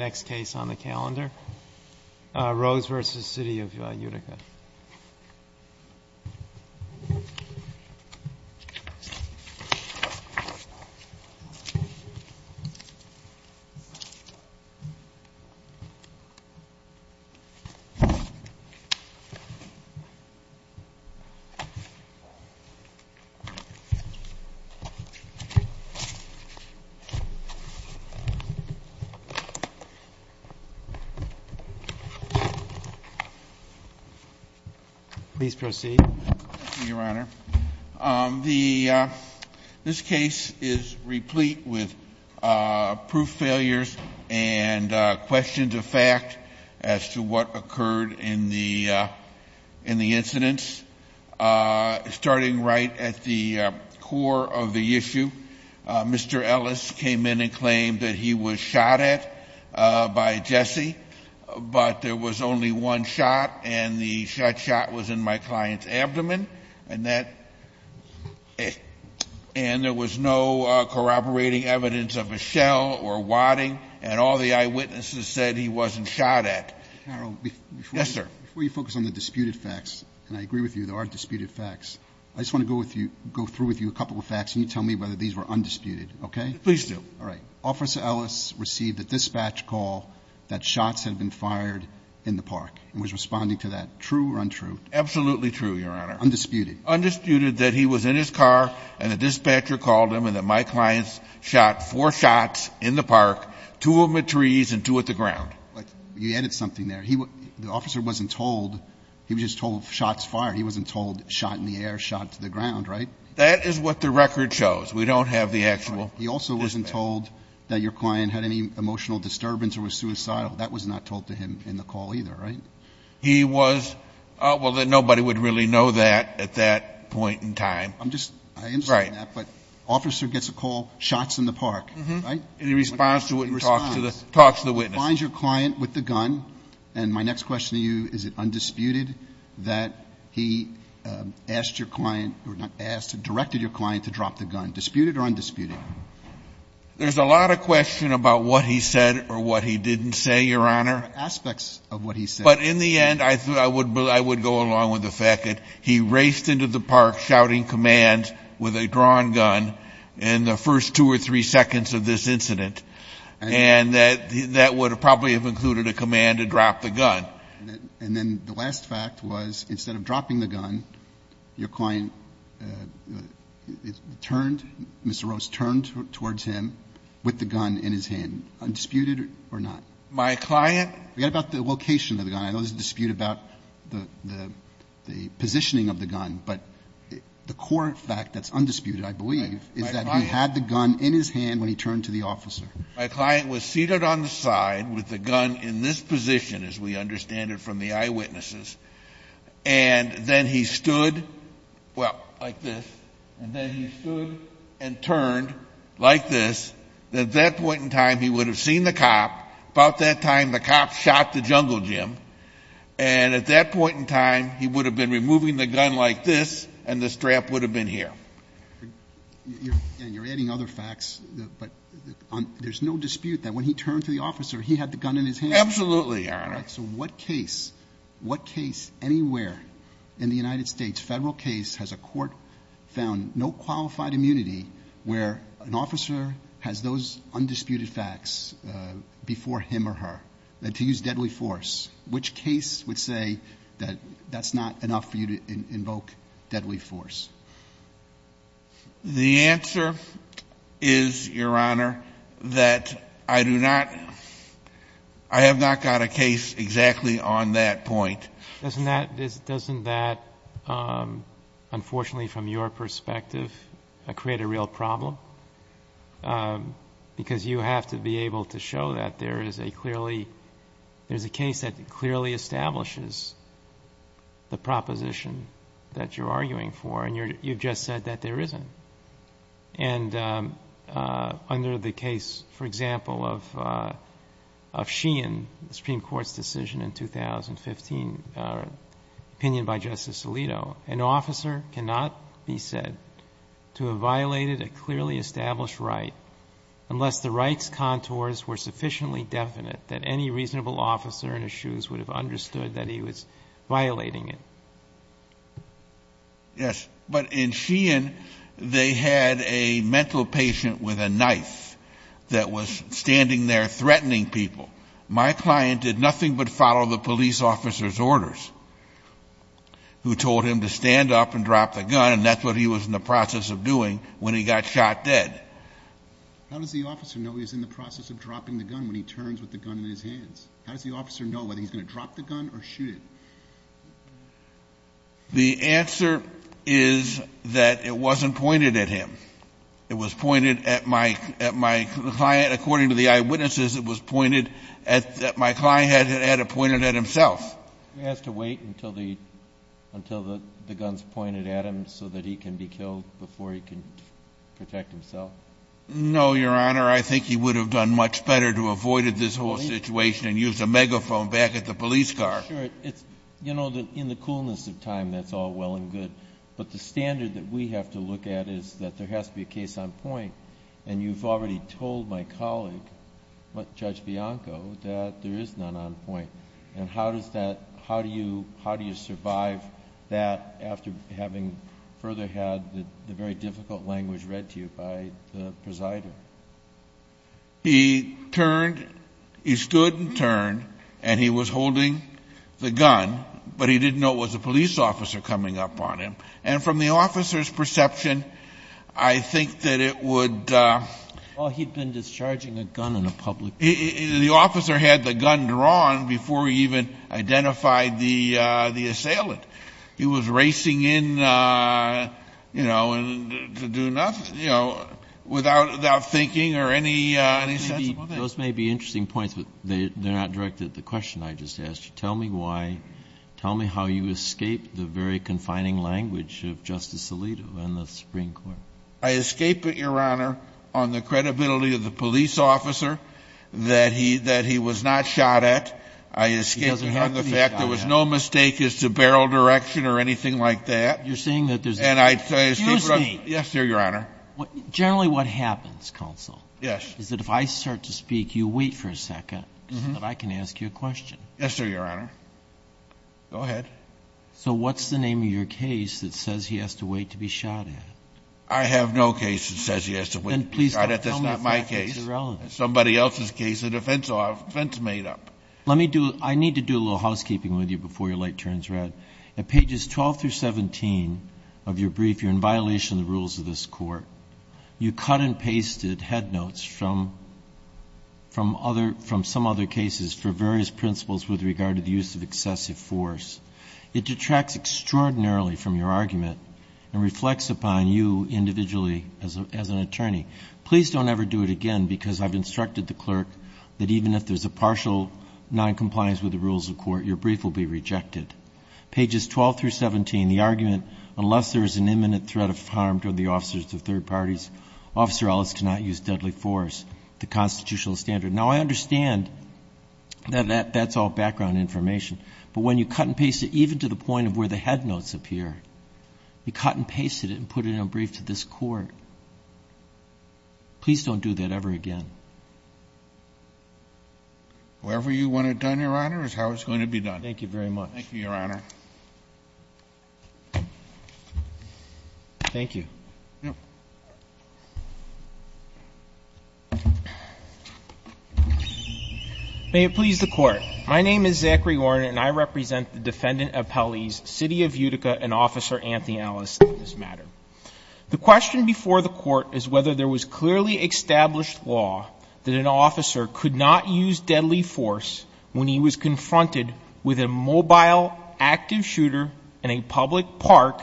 The next case on the calendar, Rose v. City of Utica. Please proceed. Your Honor, this case is replete with proof failures and questions of fact as to what occurred in the incidents. Starting right at the core of the issue, Mr. Ellis came in and claimed that he was shot at. By Jesse, but there was only one shot, and the shot was in my client's abdomen. And there was no corroborating evidence of a shell or wadding. And all the eyewitnesses said he wasn't shot at. Harold, before you focus on the disputed facts, and I agree with you, there are disputed facts, I just want to go through with you a couple of facts and you tell me whether these were undisputed, okay? Please do. All right. Officer Ellis received a dispatch call that shots had been fired in the park. He was responding to that, true or untrue? Absolutely true, Your Honor. Undisputed. Undisputed that he was in his car and the dispatcher called him and that my client shot four shots in the park, two of them at trees and two at the ground. You added something there. The officer wasn't told he was just told shots fired. He wasn't told shot in the air, shot to the ground, right? That is what the record shows. We don't have the actual dispatch call. He also wasn't told that your client had any emotional disturbance or was suicidal. That was not told to him in the call either, right? He was – well, nobody would really know that at that point in time. I'm just – I understand that. Right. But officer gets a call, shots in the park, right? And he responds to it and talks to the witness. Responds. Finds your client with the gun. And my next question to you, is it undisputed that he asked your client – or directed your client to drop the gun? Disputed or undisputed? There's a lot of question about what he said or what he didn't say, Your Honor. There are aspects of what he said. But in the end, I would go along with the fact that he raced into the park shouting commands with a drawn gun in the first two or three seconds of this incident. And that would probably have included a command to drop the gun. And then the last fact was instead of dropping the gun, your client turned – Mr. Rose turned towards him with the gun in his hand. Undisputed or not? My client – Forget about the location of the gun. I know there's a dispute about the positioning of the gun. But the core fact that's undisputed, I believe, is that he had the gun in his hand when he turned to the officer. My client was seated on the side with the gun in this position, as we understand it from the eyewitnesses. And then he stood – well, like this. And then he stood and turned like this. At that point in time, he would have seen the cop. About that time, the cop shot the jungle gym. And at that point in time, he would have been removing the gun like this, and the strap would have been here. You're adding other facts, but there's no dispute that when he turned to the officer, he had the gun in his hand? Absolutely, Your Honor. So what case, what case anywhere in the United States, federal case, has a court found no qualified immunity where an officer has those undisputed facts before him or her to use deadly force? Which case would say that that's not enough for you to invoke deadly force? The answer is, Your Honor, that I do not – I have not got a case exactly on that point. Doesn't that, unfortunately from your perspective, create a real problem? Because you have to be able to show that there is a clearly – there's a case that clearly establishes the proposition that you're arguing for, and you've just said that there isn't. And under the case, for example, of Sheehan, the Supreme Court's decision in 2015, opinion by Justice Alito, an officer cannot be said to have violated a clearly established right unless the right's contours were sufficiently definite that any reasonable officer in his shoes would have understood that he was violating it. Yes, but in Sheehan, they had a mental patient with a knife that was standing there threatening people. My client did nothing but follow the police officer's orders, who told him to stand up and drop the gun, and that's what he was in the process of doing when he got shot dead. How does the officer know he's in the process of dropping the gun when he turns with the gun in his hands? How does the officer know whether he's going to drop the gun or shoot it? The answer is that it wasn't pointed at him. It was pointed at my client. According to the eyewitnesses, it was pointed at – my client had it pointed at himself. He has to wait until the gun's pointed at him so that he can be killed before he can protect himself? No, Your Honor. Your Honor, I think he would have done much better to avoid this whole situation and use a megaphone back at the police car. Sure. You know, in the coolness of time, that's all well and good, but the standard that we have to look at is that there has to be a case on point, and you've already told my colleague, Judge Bianco, that there is none on point. And how do you survive that after having further had the very difficult language read to you by the presider? He turned. He stood and turned, and he was holding the gun, but he didn't know it was a police officer coming up on him. And from the officer's perception, I think that it would – Well, he'd been discharging a gun in a public place. The officer had the gun drawn before he even identified the assailant. He was racing in, you know, without thinking or any sense of it. Those may be interesting points, but they're not directed at the question I just asked you. Tell me why. Tell me how you escaped the very confining language of Justice Alito and the Supreme Court. I escaped it, Your Honor, on the credibility of the police officer that he was not shot at. I escaped it on the fact there was no mistake as to barrel direction or anything like that. You're saying that there's – And I escaped it on – Excuse me. Yes, sir, Your Honor. Generally what happens, counsel, is that if I start to speak, you wait for a second so that I can ask you a question. Yes, sir, Your Honor. Go ahead. So what's the name of your case that says he has to wait to be shot at? I have no case that says he has to wait to be shot at. That's not my case. It's somebody else's case, a defense made up. Let me do – I need to do a little housekeeping with you before your light turns red. At pages 12 through 17 of your brief, you're in violation of the rules of this court. You cut and pasted head notes from some other cases for various principles with regard to the use of excessive force. It detracts extraordinarily from your argument and reflects upon you individually as an attorney. Please don't ever do it again because I've instructed the clerk that even if there's a partial noncompliance with the rules of court, your brief will be rejected. Pages 12 through 17, the argument, unless there is an imminent threat of harm to the officers of third parties, Officer Ellis cannot use deadly force, the constitutional standard. Now, I understand that that's all background information, but when you cut and pasted even to the point of where the head notes appear, you cut and pasted it and put it in a brief to this court. Please don't do that ever again. Whoever you want it done, Your Honor, is how it's going to be done. Thank you very much. Thank you, Your Honor. Thank you. May it please the Court. My name is Zachary Warner and I represent the Defendant Appellees, City of Utica, and Officer Anthony Ellis in this matter. The question before the Court is whether there was clearly established law that an officer could not use deadly force when he was confronted with a mobile active shooter in a public park,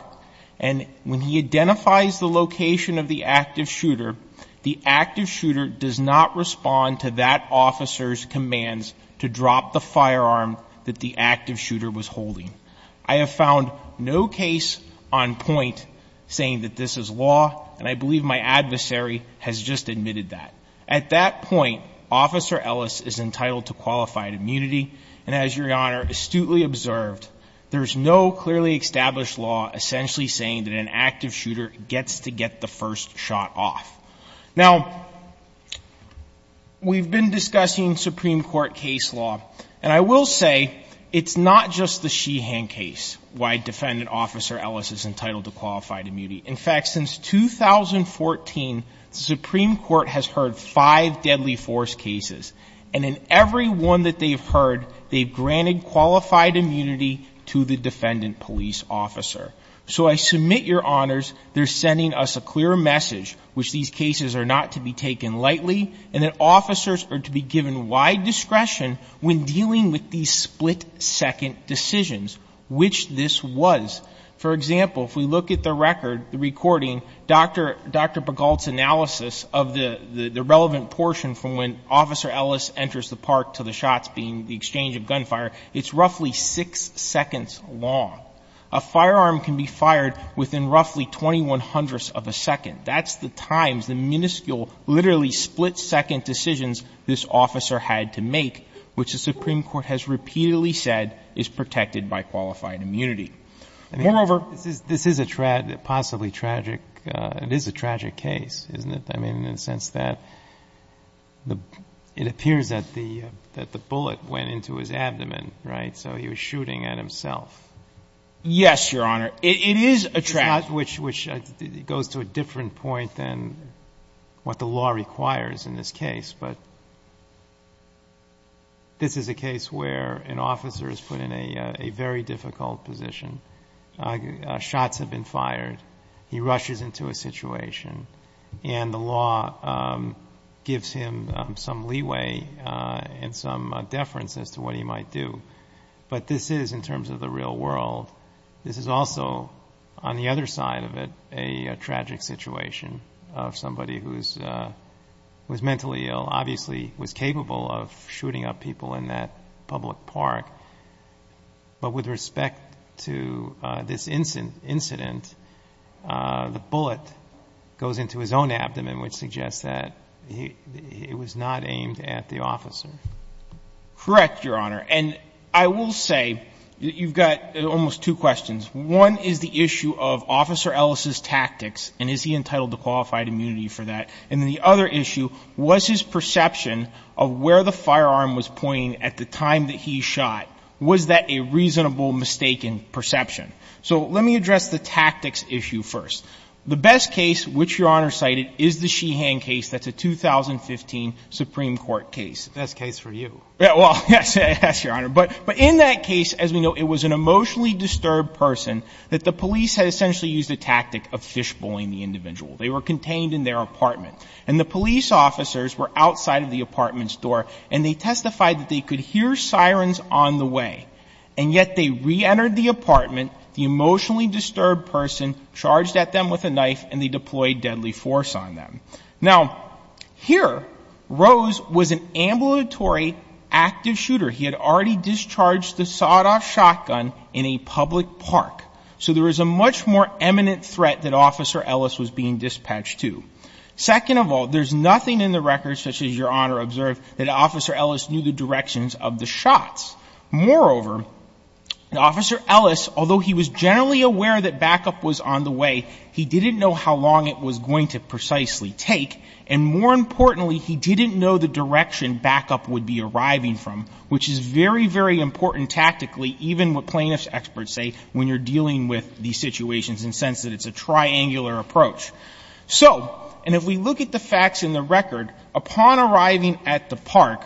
and when he identifies the location of the active shooter, the active shooter does not respond to that officer's commands to drop the firearm that the active shooter was holding. I have found no case on point saying that this is law, and I believe my adversary has just admitted that. At that point, Officer Ellis is entitled to qualified immunity, and as Your Honor astutely observed, there is no clearly established law essentially saying that an active shooter gets to get the first shot off. Now, we've been discussing Supreme Court case law, and I will say it's not just the Sheehan case why Defendant Officer Ellis is entitled to qualified immunity. In fact, since 2014, the Supreme Court has heard five deadly force cases, and in every one that they've heard, they've granted qualified immunity to the defendant police officer. So I submit, Your Honors, they're sending us a clear message which these cases are not to be taken lightly, and that officers are to be given wide discretion when dealing with these split-second decisions, which this was. For example, if we look at the record, the recording, Dr. Begalt's analysis of the relevant portion from when Officer Ellis enters the park to the shots being the exchange of gunfire, it's roughly six seconds long. A firearm can be fired within roughly 21 hundredths of a second. That's the times, the minuscule, literally split-second decisions this officer had to make, which the Supreme Court has repeatedly said is protected by qualified immunity. Moreover, this is a possibly tragic, it is a tragic case, isn't it? I mean, in the sense that it appears that the bullet went into his abdomen, right? So he was shooting at himself. Yes, Your Honor. It is a tragic case. Which goes to a different point than what the law requires in this case, but this is a case where an officer is put in a very difficult position. Shots have been fired. He rushes into a situation, and the law gives him some leeway and some deference as to what he might do. But this is, in terms of the real world, this is also, on the other side of it, a tragic situation of somebody who's mentally ill, obviously was capable of shooting up people in that public park. But with respect to this incident, the bullet goes into his own abdomen, which suggests that it was not aimed at the officer. Correct, Your Honor. And I will say that you've got almost two questions. One is the issue of Officer Ellis's tactics, and is he entitled to qualified immunity for that. And the other issue was his perception of where the firearm was pointing at the time that he shot. Was that a reasonable, mistaken perception? So let me address the tactics issue first. The best case, which Your Honor cited, is the Sheehan case. That's a 2015 Supreme Court case. The best case for you. Well, yes, Your Honor. But in that case, as we know, it was an emotionally disturbed person that the police had essentially used a tactic of fishbowling the individual. They were contained in their apartment. And the police officers were outside of the apartment's door, and they testified that they could hear sirens on the way. And yet they reentered the apartment, the emotionally disturbed person charged at them with a knife, and they deployed deadly force on them. Now, here, Rose was an ambulatory active shooter. He had already discharged the sawed-off shotgun in a public park. So there was a much more eminent threat that Officer Ellis was being dispatched to. Second of all, there's nothing in the records, such as Your Honor observed, that Officer Ellis knew the directions of the shots. Moreover, Officer Ellis, although he was generally aware that backup was on the way, he didn't know how long it was going to precisely take, and more importantly, he didn't know the direction backup would be arriving from, which is very, very important tactically, even what plaintiff's experts say when you're dealing with these situations, in the sense that it's a triangular approach. So, and if we look at the facts in the record, upon arriving at the park,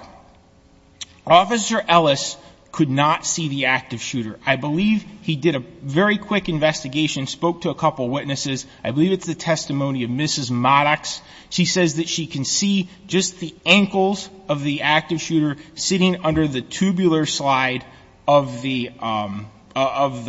Officer Ellis could not see the active shooter. I believe he did a very quick investigation, spoke to a couple witnesses. I believe it's the testimony of Mrs. Madox. She says that she can see just the ankles of the active shooter sitting under the tubular slide of the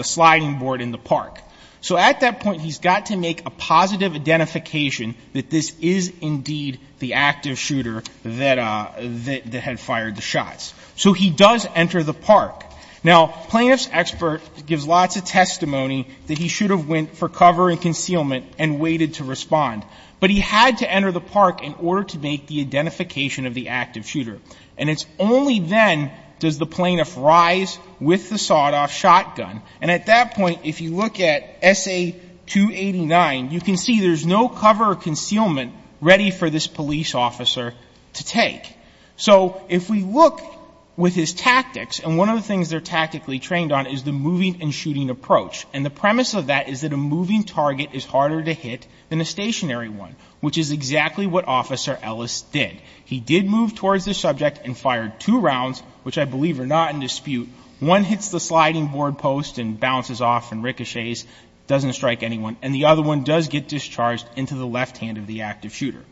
sliding board in the park. So at that point, he's got to make a positive identification that this is indeed the active shooter that had fired the shots. So he does enter the park. Now, plaintiff's expert gives lots of testimony that he should have went for cover and concealment and waited to respond. But he had to enter the park in order to make the identification of the active shooter. And it's only then does the plaintiff rise with the sawed-off shotgun. And at that point, if you look at S.A. 289, you can see there's no cover or concealment ready for this police officer to take. So if we look with his tactics, and one of the things they're tactically trained on is the moving and shooting approach. And the premise of that is that a moving target is harder to hit than a stationary one, which is exactly what Officer Ellis did. He did move towards the subject and fired two rounds, which I believe are not in dispute. One hits the sliding board post and bounces off and ricochets, doesn't strike anyone. And the other one does get discharged into the left hand of the active shooter.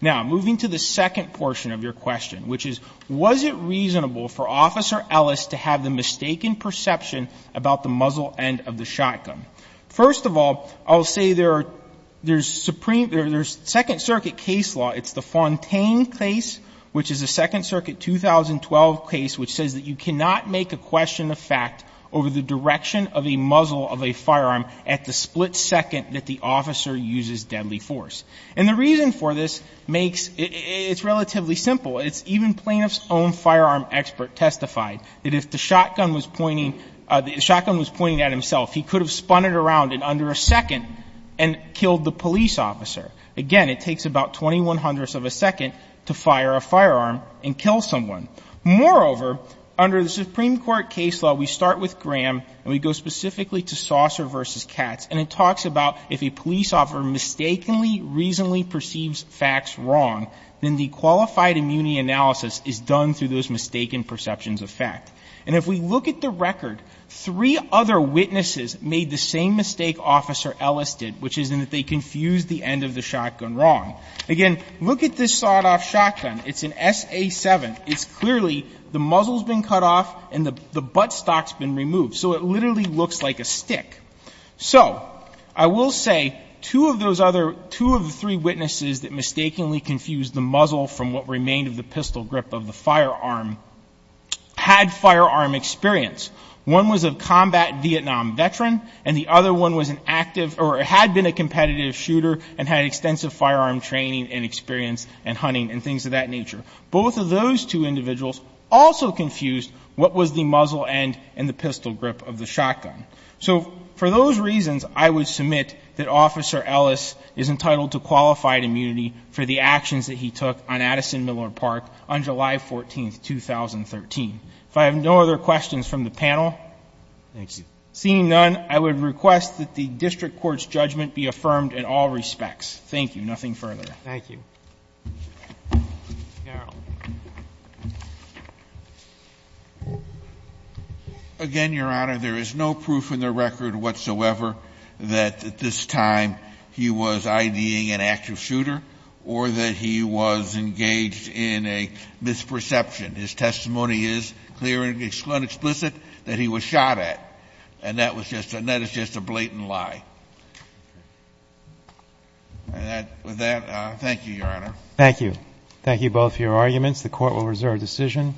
Now, moving to the second portion of your question, which is, was it reasonable for Officer Ellis to have the mistaken perception about the muzzle end of the shotgun? First of all, I'll say there's second circuit case law. It's the Fontaine case, which is a second circuit 2012 case, which says that you cannot make a question of fact over the direction of a muzzle of a firearm at the split second that the officer uses deadly force. And the reason for this makes it's relatively simple. It's even plaintiff's own firearm expert testified that if the shotgun was pointing at himself, he could have spun it around in under a second and killed the police officer. Again, it takes about 21 hundredths of a second to fire a firearm and kill someone. Moreover, under the Supreme Court case law, we start with Graham and we go specifically to saucer versus cats. And it talks about if a police officer mistakenly, reasonably perceives facts wrong, then the qualified immunity analysis is done through those mistaken perceptions of fact. And if we look at the record, three other witnesses made the same mistake Officer Ellis did, which is that they confused the end of the shotgun wrong. Again, look at this sawed off shotgun. It's an SA7. It's clearly the muzzle's been cut off and the buttstock's been removed. So it literally looks like a stick. So I will say two of those other, two of the three witnesses that mistakenly confused the muzzle from what remained of the pistol grip of the firearm had firearm experience. One was a combat Vietnam veteran and the other one was an active or had been a competitive shooter and had extensive firearm training and experience and hunting and things of that nature. Both of those two individuals also confused what was the muzzle end and the pistol grip of the shotgun. So for those reasons, I would submit that Officer Ellis is entitled to qualified immunity for the actions that he took on Addison Miller Park on July 14th, 2013. If I have no other questions from the panel. Seeing none, I would request that the district court's judgment be affirmed in all respects. Thank you. Nothing further. Thank you. Again, Your Honor, there is no proof in the record whatsoever that at this time he was IDing an active shooter or that he was engaged in a misperception. His testimony is clear and explicit that he was shot at. And that is just a blatant lie. With that, thank you, Your Honor. Thank you. Thank you both for your arguments. The court will reserve decision.